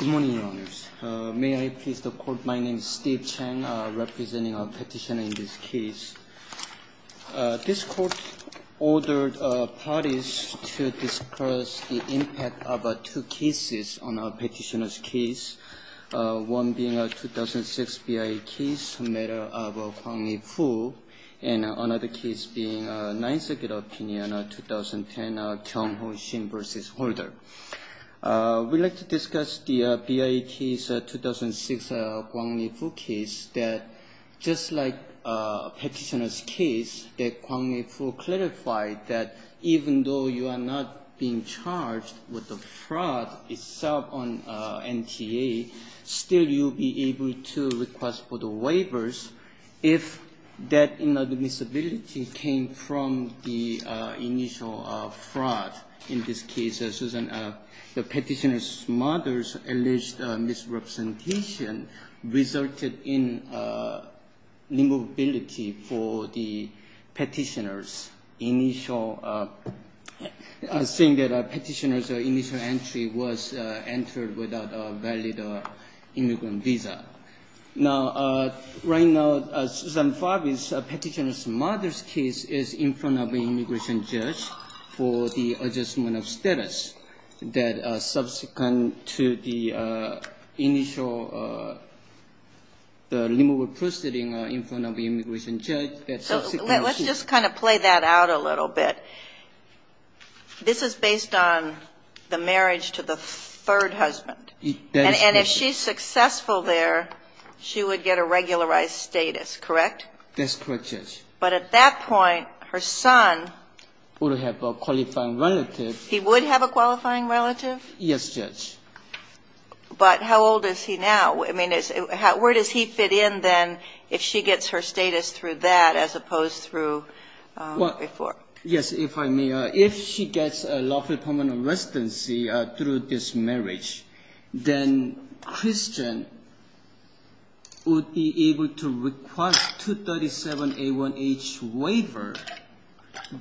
Good morning, Your Honors. May I please the Court, my name is Steve Chang, representing our petitioner in this case. This Court ordered Favis to discuss the impact of two cases on our petitioner's case, one being a 2006 BIA case, a matter of Hwang Lee Foo, and another case being a 9th Circuit opinion, 2010, Kyung Ho Shin v. Holder. We'd like to talk about the BIA case, 2006 Hwang Lee Foo case. Just like the petitioner's case, Hwang Lee Foo clarified that even though you are not being charged with the fraud itself on NTA, still you'll be able to request for the waivers if that inadmissibility came from the initial fraud. In this case, the petitioner's mother's alleged misrepresentation resulted in limobility for the petitioner's initial, saying that the petitioner's initial entry was entered without a valid immigrant visa. Now, right now, Susan Favis' petitioner's mother's case is in front of an immigration judge for the adjustment of status that subsequent to the initial limobility proceeding in front of the immigration judge. Let's just kind of play that out a little bit. This is based on the marriage to the third husband. And if she's successful there, she would get a regularized status, correct? That's correct, Judge. But at that point, her son would have a qualifying relative. He would have a qualifying relative? Yes, Judge. But how old is he now? I mean, where does he fit in, then, if she gets her status through that as opposed through before? Yes, if I may. If she gets a lawful permanent residency through this marriage, then Christian would be able to request 237-A1H waiver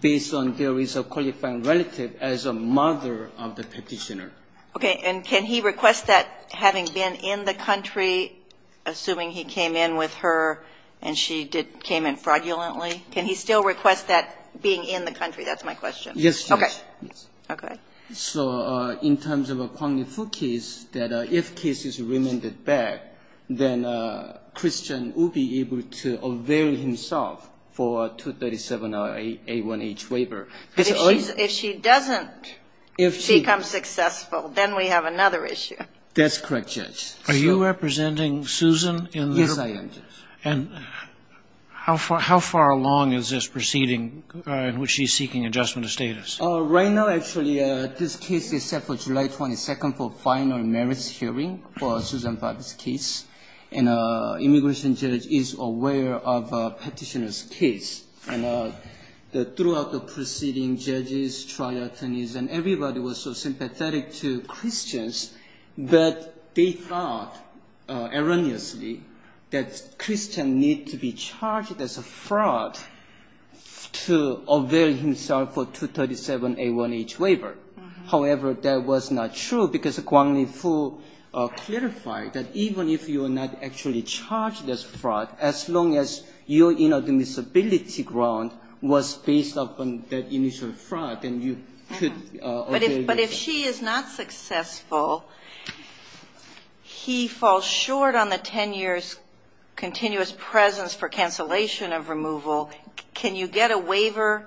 based on there is a qualifying relative as a mother of the petitioner. Okay. And can he request that having been in the country, assuming he came in with her and she came in fraudulently, can he still request that being in the country? That's my question. Yes, Judge. Okay. Okay. So in terms of a quantified case, that if case is remanded back, then Christian will be able to avail himself for 237-A1H waiver. If she doesn't become successful, then we have another issue. That's correct, Judge. Are you representing Susan in the... Yes, I am, Judge. How far along is this proceeding in which she's seeking adjustment of status? Right now, actually, this case is set for July 22nd for final merits hearing for Susan Favre's case. And immigration judge is aware of petitioner's case. And throughout the proceeding, judges, triathletes, and everybody was so sympathetic to Christians that they thought erroneously that Christian need to be charged as a fraud to avail himself for 237-A1H waiver. However, that was not true because Guanglin Fu clarified that even if you are not actually charged as fraud, as long as your inadmissibility ground was based upon that initial fraud, then you could avail yourself. But if she is not successful, he falls short on the 10 years continuous presence for cancellation of removal, can you get a waiver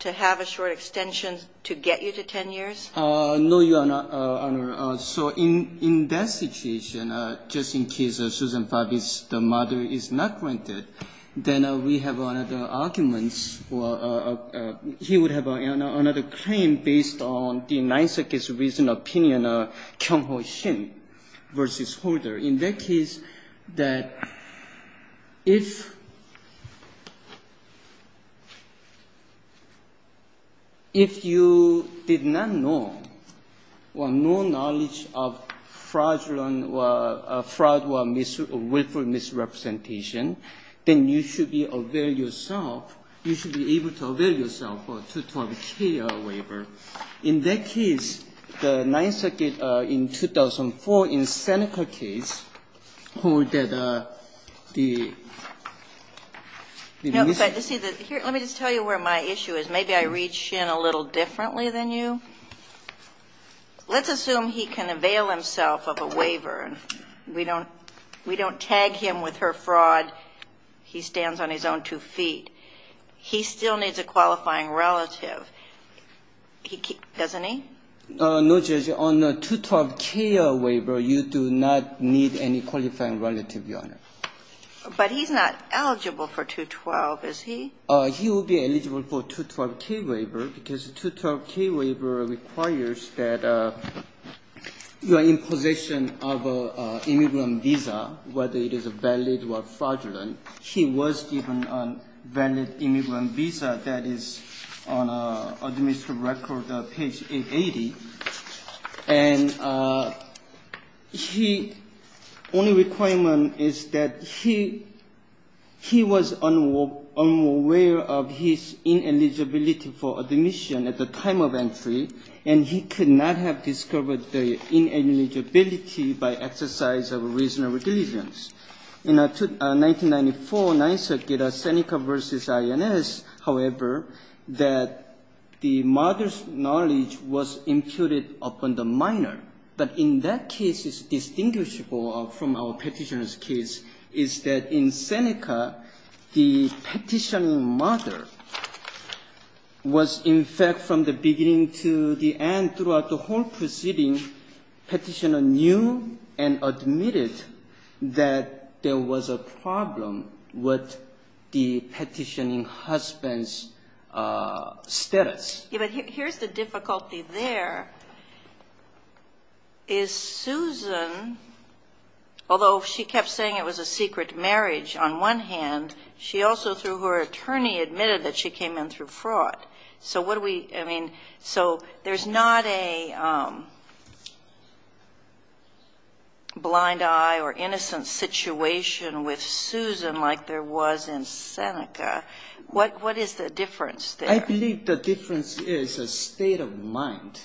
to have a short extension to get you to 10 years? No, Your Honor. So in that situation, just in case Susan Favre's mother is not granted, then we have another argument. He would have another claim based on the Ninth Circuit's recent opinion, Kyung-ho Shin v. Holder. In that case, that if you did not know or no knowledge of fraud or willful misrepresentation, then you should be able to avail yourself for 212-K waiver. In that case, the Ninth Circuit's hold that the misrepresentation... No, but let me just tell you where my issue is. Maybe I read Shin a little differently than you. Let's assume he can avail himself of a waiver. We don't tag him with her fraud. He stands on his own two feet. He still needs a qualifying relative. Doesn't he? No, Judge. On the 212-K waiver, you do not need any qualifying relative, Your Honor. But he's not eligible for 212, is he? He will be eligible for 212-K waiver because the 212-K waiver requires that you are in possession of an immigrant visa, whether it is valid or fraudulent. He was given a valid immigrant visa that is on administrative record, page 880. And he only requirement is that he was unaware of his ineligibility for admission at the time of entry, and he could not have discovered the ineligibility by exercise of reasonable diligence. In 1994, 9th Circuit, Seneca v. INS, however, that the mother's knowledge was imputed upon the minor. But in that case, it's distinguishable from our Petitioner's case, is that in Seneca, the Petitioner's mother was, in fact, from the beginning to the end throughout the whole proceeding, Petitioner knew and admitted that there was a problem with the Petitioner's husband's status. But here's the difficulty there, is Susan, although she kept saying it was a secret marriage on one hand, she also, through her attorney, admitted that she came in through the other. So there's not a blind eye or innocent situation with Susan like there was in Seneca. What is the difference there? I believe the difference is a state of mind,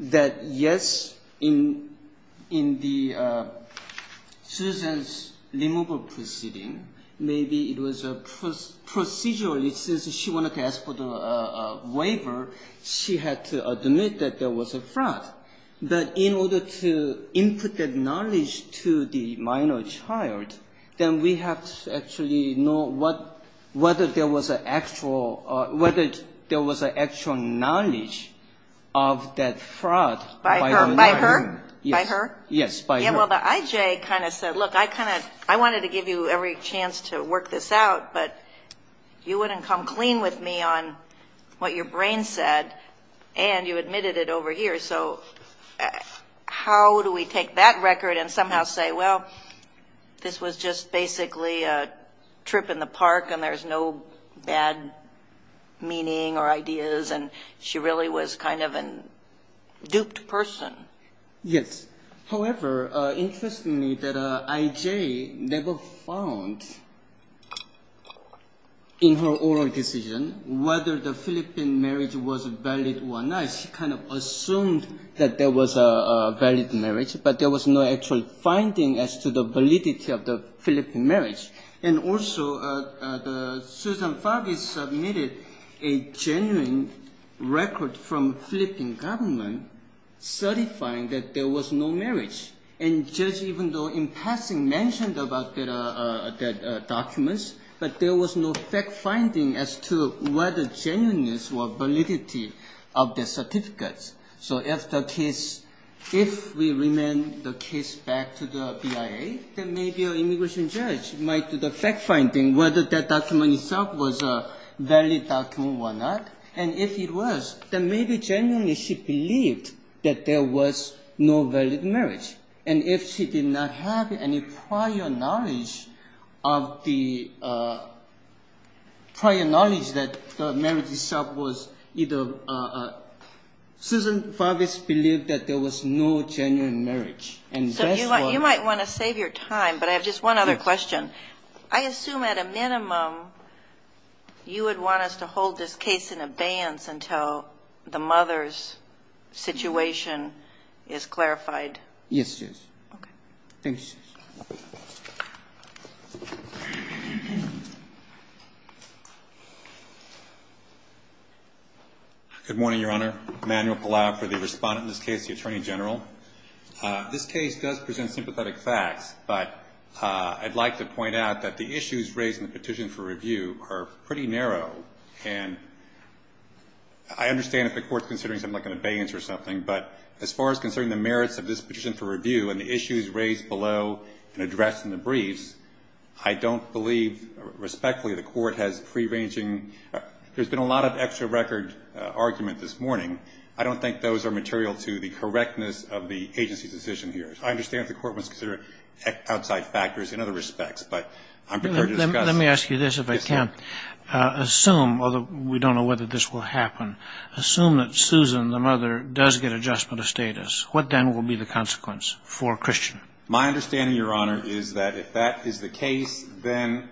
that yes, in the Susan's removal proceeding, maybe it was procedurally, since she wanted to ask for the waiver, she had to admit that there was a fraud. But in order to input that knowledge to the minor child, then we have to actually know whether there was an actual knowledge of that fraud by the minor. By her? Yes. By her? Yes, by her. Well, the I.J. kind of said, look, I kind of, I wanted to give you every chance to work this out, but you wouldn't come clean with me on what your brain said, and you admitted it over here, so how do we take that record and somehow say, well, this was just basically a trip in the park and there's no bad meaning or ideas, and she really was kind of a duped person. Yes. However, interestingly, the I.J. never found in her oral decision whether the Philippine marriage was valid or not. She kind of assumed that there was a valid marriage, but there was no actual finding as to the validity of the Philippine marriage. And also, Susan Farvey submitted a genuine record from Philippine government certifying that there was no marriage. And Judge, even though in passing mentioned about the documents, but there was no fact finding as to whether genuineness or validity of the certificates. So if the case, if we remand the case back to the BIA, then maybe an immigration judge might do the fact finding whether that document itself was a valid document or not. And if it was, then maybe genuinely she believed that there was no valid marriage. And if she did not have any prior knowledge of the prior knowledge that the marriage itself was either, Susan Farvey believed that there was no genuine marriage. So you might want to save your time, but I have just one other question. I assume at a minimum, you would want us to hold this case in abeyance until the mother's situation is clarified? Yes, Judge. Okay. Thank you, Judge. Good morning, Your Honor. Emmanuel Palau for the Respondent in this case, the Attorney General. This case does present sympathetic facts, but I'd like to point out that the issues raised in the petition for review are pretty narrow. And I understand if the court's considering something like an abeyance or something, but as far as considering the merits of this petition for review and the issues raised below and addressed in the briefs, I don't believe respectfully the court has free-ranging. There's been a lot of extra record argument this morning. I don't think those are material to the correctness of the agency's decision here. I understand if the court wants to consider outside factors in other respects, but I'm prepared to discuss them. Let me ask you this, if I can. Assume, although we don't know whether this will happen, assume that Susan, the mother, does get adjustment of status. What then will be the consequence for Christian? My understanding, Your Honor, is that if that is the case, then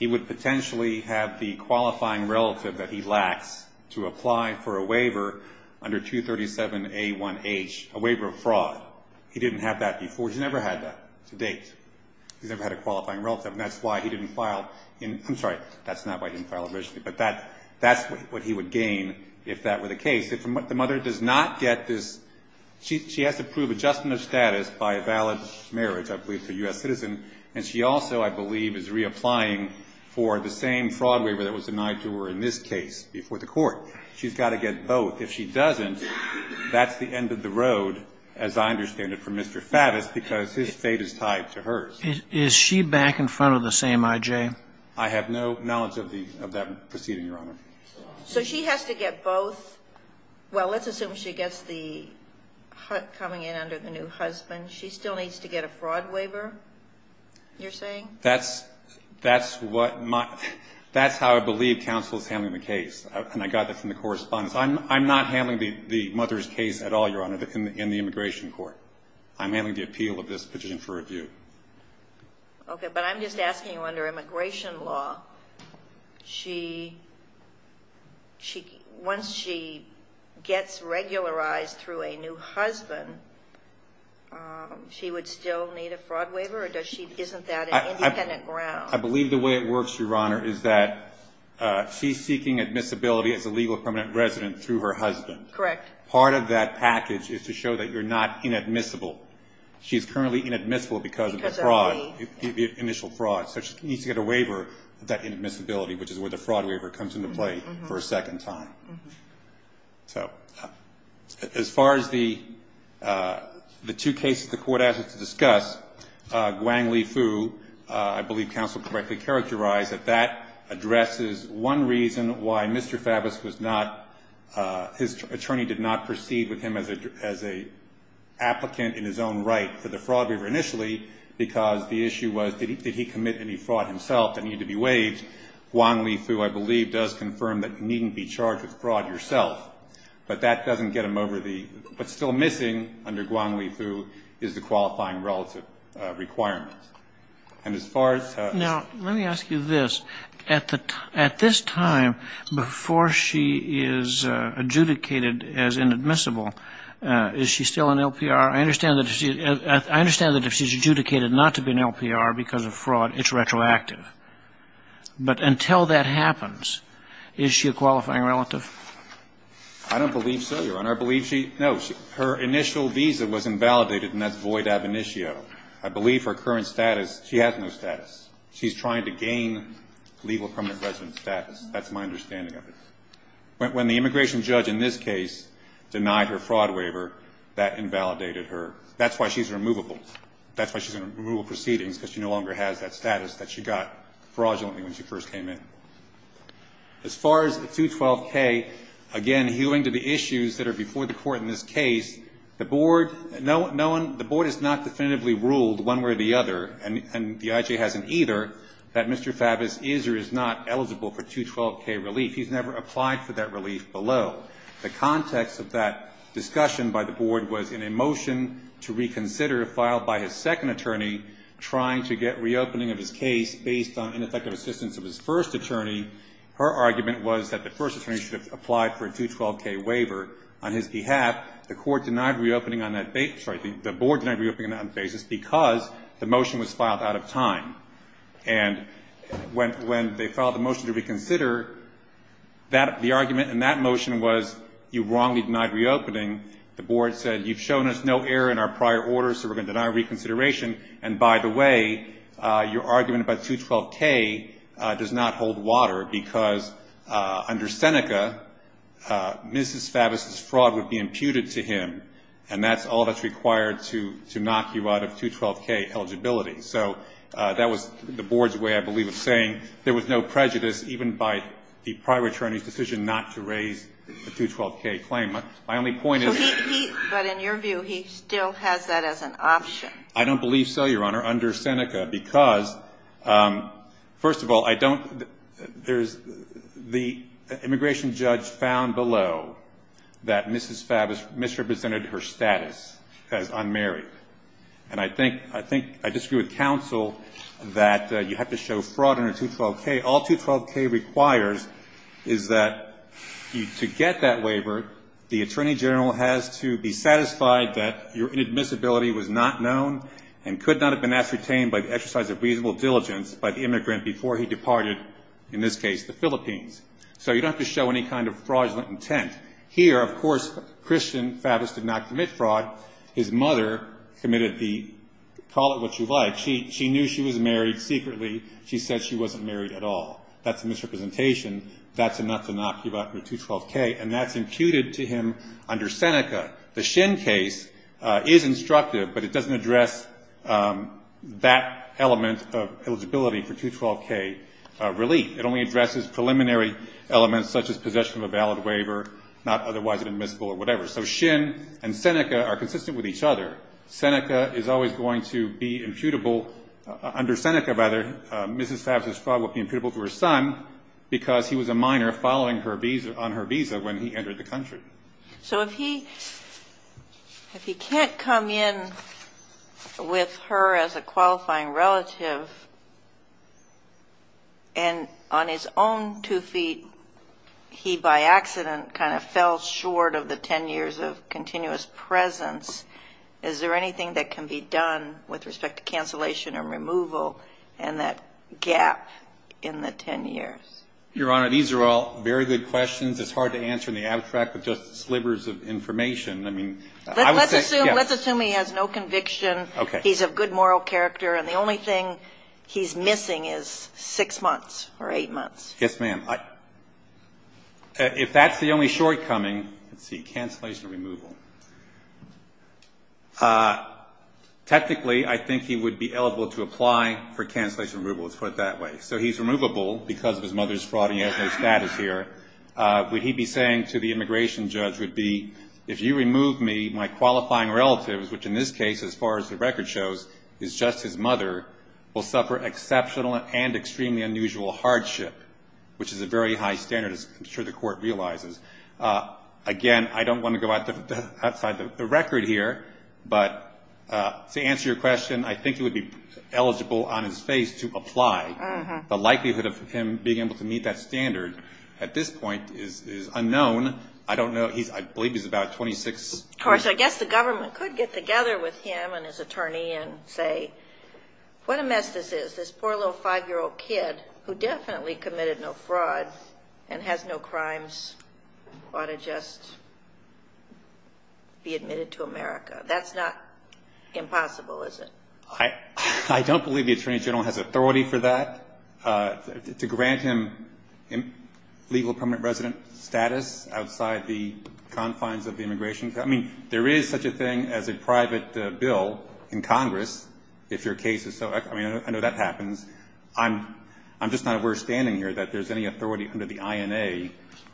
he would potentially have the qualifying relative that he lacks to apply for a waiver under 237A1H, a waiver of fraud. He didn't have that before. He's never had that to date. He's never had a qualifying relative, and that's why he didn't file in—I'm sorry, that's not why he didn't file initially. But that's what he would gain if that were the case. If the mother does not get this—she has to prove adjustment of status by a valid marriage, I believe, to a U.S. citizen, and she also, I believe, is reapplying for the same fraud waiver that was denied to her in this case before the court. She's got to get both. If she doesn't, that's the end of the road, as I understand it, for Mr. Faddis, because his fate is tied to hers. Is she back in front of the same I.J.? I have no knowledge of that proceeding, Your Honor. So she has to get both? Well, let's assume she gets the coming in under the new husband. She still needs to get a fraud waiver, you're saying? That's what my—that's how I believe counsel is handling the case, and I got that from the trial, Your Honor, in the immigration court. I'm handling the appeal of this petition for review. Okay, but I'm just asking you, under immigration law, she—once she gets regularized through a new husband, she would still need a fraud waiver, or does she—isn't that an independent ground? I believe the way it works, Your Honor, is that she's seeking admissibility as a legal permanent resident through her husband. Correct. Part of that package is to show that you're not inadmissible. She's currently inadmissible because of the fraud, the initial fraud, so she needs to get a waiver of that inadmissibility, which is where the fraud waiver comes into play for a second time. As far as the two cases the court asked us to discuss, Guangli Fu, I believe counsel correctly characterized that that addresses one reason why Mr. Faddis was not—his attorney did not proceed with him as an applicant in his own right for the fraud waiver initially because the issue was did he commit any fraud himself that needed to be waived. Guangli Fu, I believe, does confirm that you needn't be charged with fraud yourself, but that doesn't get him over the—what's still missing under Guangli Fu is the qualifying relative requirements. And as far as— Now, let me ask you this. At this time, before she is adjudicated as inadmissible, is she still an LPR? I understand that if she's adjudicated not to be an LPR because of fraud, it's retroactive. But until that happens, is she a qualifying relative? I don't believe so, Your Honor. I believe she—no, her initial visa was invalidated, and that's void ab initio. I believe her current status—she has no status. She's trying to gain legal permanent resident status. That's my understanding of it. When the immigration judge in this case denied her fraud waiver, that invalidated her. That's why she's removable. That's why she's in removal proceedings because she no longer has that status that she got fraudulently when she first came in. As far as the 212K, again, hewing to the issues that are before the Court in this case, the Board has not definitively ruled one way or the other, and the IJ hasn't either, that Mr. Favis is or is not eligible for 212K relief. He's never applied for that relief below. The context of that discussion by the Board was in a motion to reconsider filed by his second attorney trying to get reopening of his case based on ineffective assistance of his first attorney. Her argument was that the first attorney should have applied for a 212K waiver on his behalf. The Board denied reopening on that basis because the motion was filed out of time. When they filed the motion to reconsider, the argument in that motion was you wrongly denied reopening. The Board said, you've shown us no error in our prior orders, so we're going to deny reconsideration. By the way, your argument about 212K does not hold water because under Seneca, Mrs. Favis's fraud would be imputed to him, and that's all that's required to knock you out of 212K eligibility. So that was the Board's way, I believe, of saying there was no prejudice even by the prior attorney's decision not to raise the 212K claim. My only point is he But in your view, he still has that as an option. I don't believe so, Your Honor, under Seneca because, first of all, I don't, there's, the immigration judge found below that Mrs. Favis misrepresented her status as unmarried. And I think, I disagree with counsel that you have to show fraud under 212K. All 212K requires is that to get that waiver, the attorney general has to be satisfied that your inadmissibility was not known and could not have been ascertained by the exercise of reasonable diligence by the immigrant before he departed, in this case, the Philippines. So you don't have to show any kind of fraudulent intent. Here, of course, Christian Favis did not commit fraud. His mother committed the call it what you like. She knew she was married secretly. She said she wasn't married at all. That's a misrepresentation. That's enough to knock you out with 212K, and that's imputed to him under Seneca. The Shin case is instructive, but it doesn't address that element of eligibility for 212K relief. It only addresses preliminary elements such as possession of a valid waiver, not otherwise admissible or whatever. So Shin and Seneca are consistent with each other. Seneca is always going to be imputable, under Seneca rather, Mrs. Favis' fraud will be imputable to her son because he was a minor following on her visa when he entered the country. So if he can't come in with her as a qualifying relative and on his own two feet he by accident kind of fell short of the 10 years of continuous presence, is there anything that can be done with respect to cancellation and removal and that gap in the 10 years? Your Honor, these are all very good questions. It's hard to answer in the abstract with just slivers of information. I mean, I would say, yes. Let's assume he has no conviction, he's of good moral character, and the only thing he's missing is 6 months or 8 months. Yes, ma'am. If that's the only shortcoming, let's see, cancellation and removal. Technically, I think he would be eligible to apply for cancellation and removal. Let's put it that way. So he's removable because of his mother's fraud and he has no status here. Would he be saying to the immigration judge, would be, if you remove me, my qualifying relatives, which in this case, as far as the record shows, is just his mother, will suffer exceptional and extremely unusual hardship, which is a very high standard, I'm sure the court realizes. Again, I don't want to go outside the record here, but to answer your question, I think he would be eligible on his face to apply. The likelihood of him being able to meet that standard at this point is unknown. I don't know, I believe he's about 26. Of course, I guess the government could get together with him and his attorney and say, what a mess this is. This poor little 5-year-old kid who definitely committed no fraud and has no crimes ought to just be admitted to America. That's not impossible, is it? I don't believe the attorney general has authority for that. To grant him legal permanent resident status outside the confines of the immigration, I mean, there is such a thing as a private bill in Congress, if your case is so, I mean, I know that happens. I'm just not aware standing here that there's any authority under the INA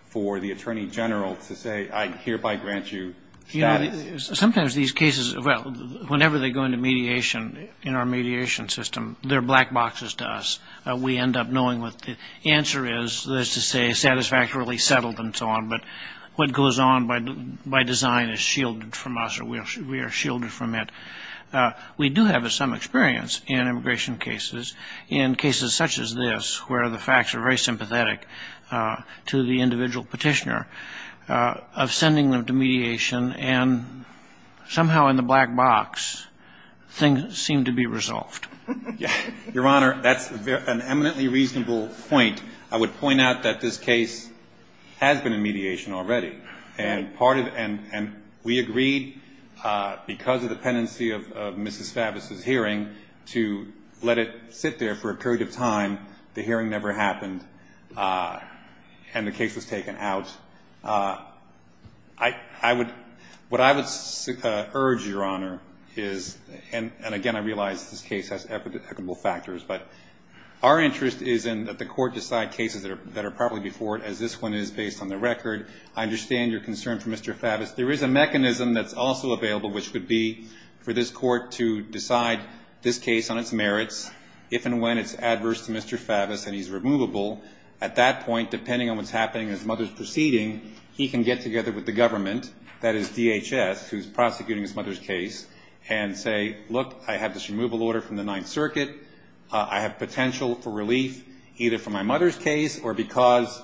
for the attorney general to say, I hereby grant you status. Sometimes these cases, whenever they go into mediation in our mediation system, they're black boxes to us. We end up knowing what the answer is, that is to say, satisfactorily settled and so on. But what goes on by design is shielded from us, or we are shielded from it. We do have some experience in immigration cases, in cases such as this, where the facts are very sympathetic to the individual petitioner, of sending them to mediation and somehow in the black box, things seem to be resolved. Your Honor, that's an eminently reasonable point. I would point out that this case has been in mediation already. And we agreed because of the pendency of Mrs. Favis' hearing to let it sit there for a period of time. The hearing never happened, and the case was taken out. What I would urge, Your Honor, is, and again, I realize this case has equitable factors, but our interest is in that the Court decide cases that are properly before it, as this one is based on the record. I understand your concern for Mr. Favis. There is a mechanism that's also available, which would be for this Court to decide this case on its merits, if and when it's adverse to Mr. Favis and he's removable. At that point, depending on what's happening in his mother's proceeding, he can get together with the government, that is DHS, who's prosecuting his mother's case, and say, look, I have this removal order from the Ninth Circuit. I have potential for relief, either for my mother's case or because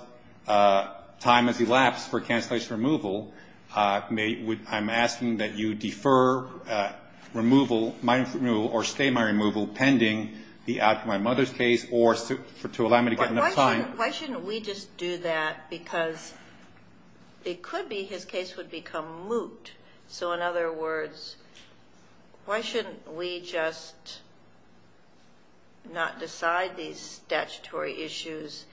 time has elapsed for cancellation of removal. I'm asking that you defer my removal or stay my removal pending my mother's case or to allow me to get enough time. Why shouldn't we just do that? Because it could be his case would become moot. So in other words, why shouldn't we just not decide these statutory issues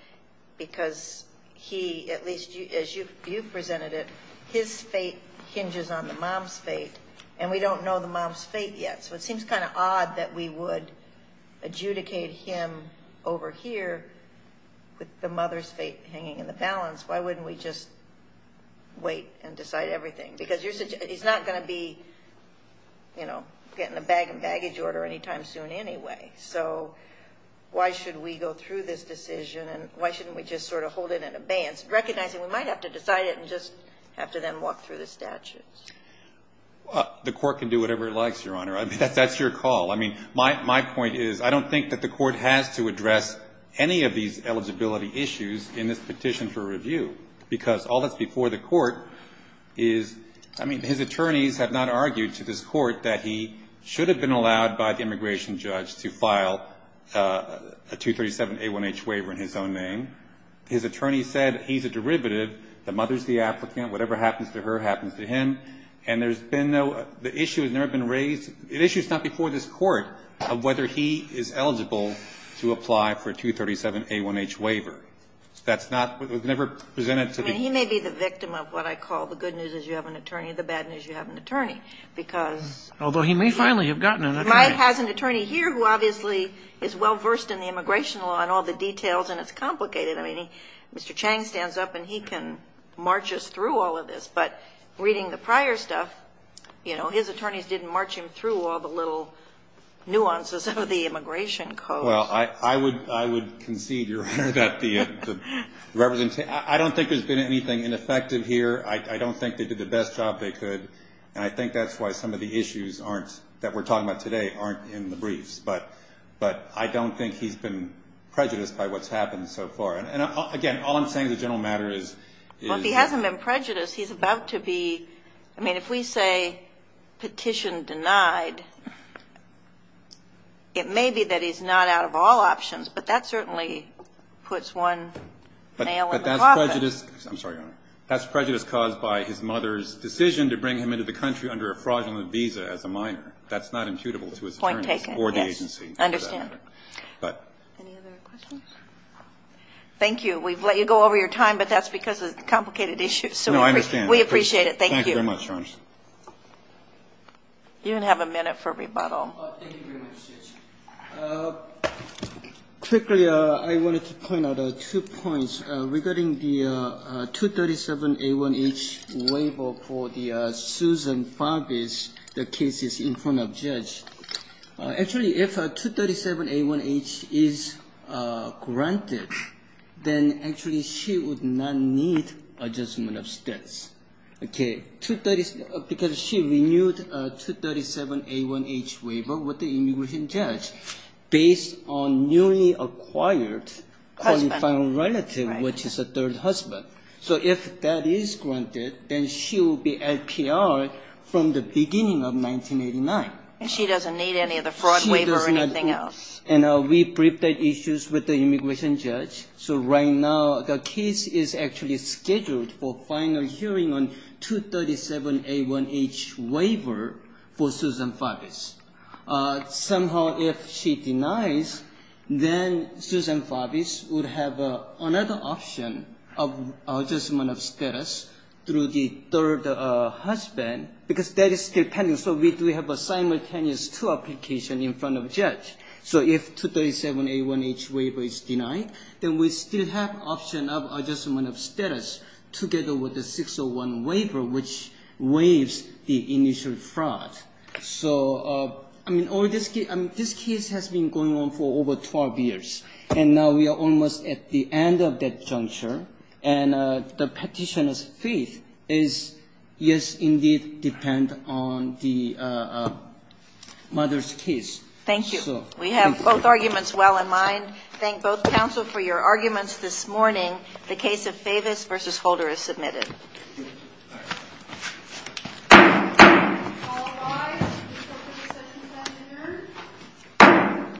because he, at least as you've presented it, his fate hinges on the mom's fate and we don't know the mom's fate yet. So it seems kind of odd that we would adjudicate him over here with the mother's fate hanging in the balance. Why wouldn't we just wait and decide everything? Because he's not going to be getting a bag and baggage order anytime soon anyway. So why should we go through this decision and why shouldn't we just sort of hold it in abeyance, recognizing we might have to decide it and just have to then walk through the statutes? The Court can do whatever it likes, Your Honor. I mean, that's your call. I mean, my point is I don't think that the Court has to address any of these eligibility issues in this petition for review, because all that's before the Court is, I mean, his attorneys have not argued to this Court that he should have been allowed by the immigration judge to file a 237a1h waiver in his own name. His attorney said he's a derivative. The mother's the applicant. Whatever happens to her happens to him. And there's been no, the issue has never been raised. The issue's not before this Court of whether he is eligible to apply for a 237a1h waiver. That's not, it was never presented to the He may be the victim of what I call the good news is you have an attorney, the bad news is you have an attorney, because Although he may finally have gotten an attorney. Mike has an attorney here who obviously is well-versed in the immigration law and all the details, and it's complicated. I mean, he, Mr. Chang stands up and he can march us through all of this, but reading the prior stuff, you know, his attorneys didn't march him through all the little nuances of the immigration code. Well, I would, I would concede, Your Honor, that the representation, I don't think there's been anything ineffective here. I don't think they did the best job they could, and I think that's why some of the issues aren't, that I don't think he's been prejudiced by what's happened so far. And again, all I'm saying is the general matter is, is Well, if he hasn't been prejudiced, he's about to be, I mean, if we say petition denied, it may be that he's not out of all options, but that certainly puts one nail in the coffin. But that's prejudice, I'm sorry, Your Honor, that's prejudice caused by his mother's decision to bring him into the country under a fraudulent visa as a minor. That's not imputable to his attorneys Point taken, yes. I understand. Any other questions? Thank you. We've let you go over your time, but that's because of complicated issues. No, I understand. We appreciate it. Thank you. Thank you very much, Your Honor. You have a minute for rebuttal. Thank you very much, Judge. Quickly, I wanted to point out two points regarding the 237A1H waiver for the Susan Farbis, the cases in front of Judge. Actually, if a 237A1H is granted, then actually she would not need adjustment of states, okay, because she renewed a 237A1H waiver with the immigration judge based on newly acquired qualifying relative, which is a third husband. So if that is granted, then she will be LPR from the beginning of 1989. She doesn't need any of the fraud waiver or anything else. And we briefed the issues with the immigration judge. So right now, the case is actually scheduled for final hearing on 237A1H waiver for Susan Farbis. Somehow, if she denies, then Susan Farbis would have another option of adjustment of status through the third husband, because that is still pending. So we have a simultaneous two application in front of Judge. So if 237A1H waiver is denied, then we still have option of adjustment of status together with the 601 waiver, which waives the initial fraud. So, I mean, this case has been going on for over 12 years. And now we are almost at the end of that juncture. And the Petitioner's faith is, yes, indeed, depend on the mother's case. Thank you. We have both arguments well in mind. Thank both counsel for your arguments this morning. The case of Favis v. Holder is submitted.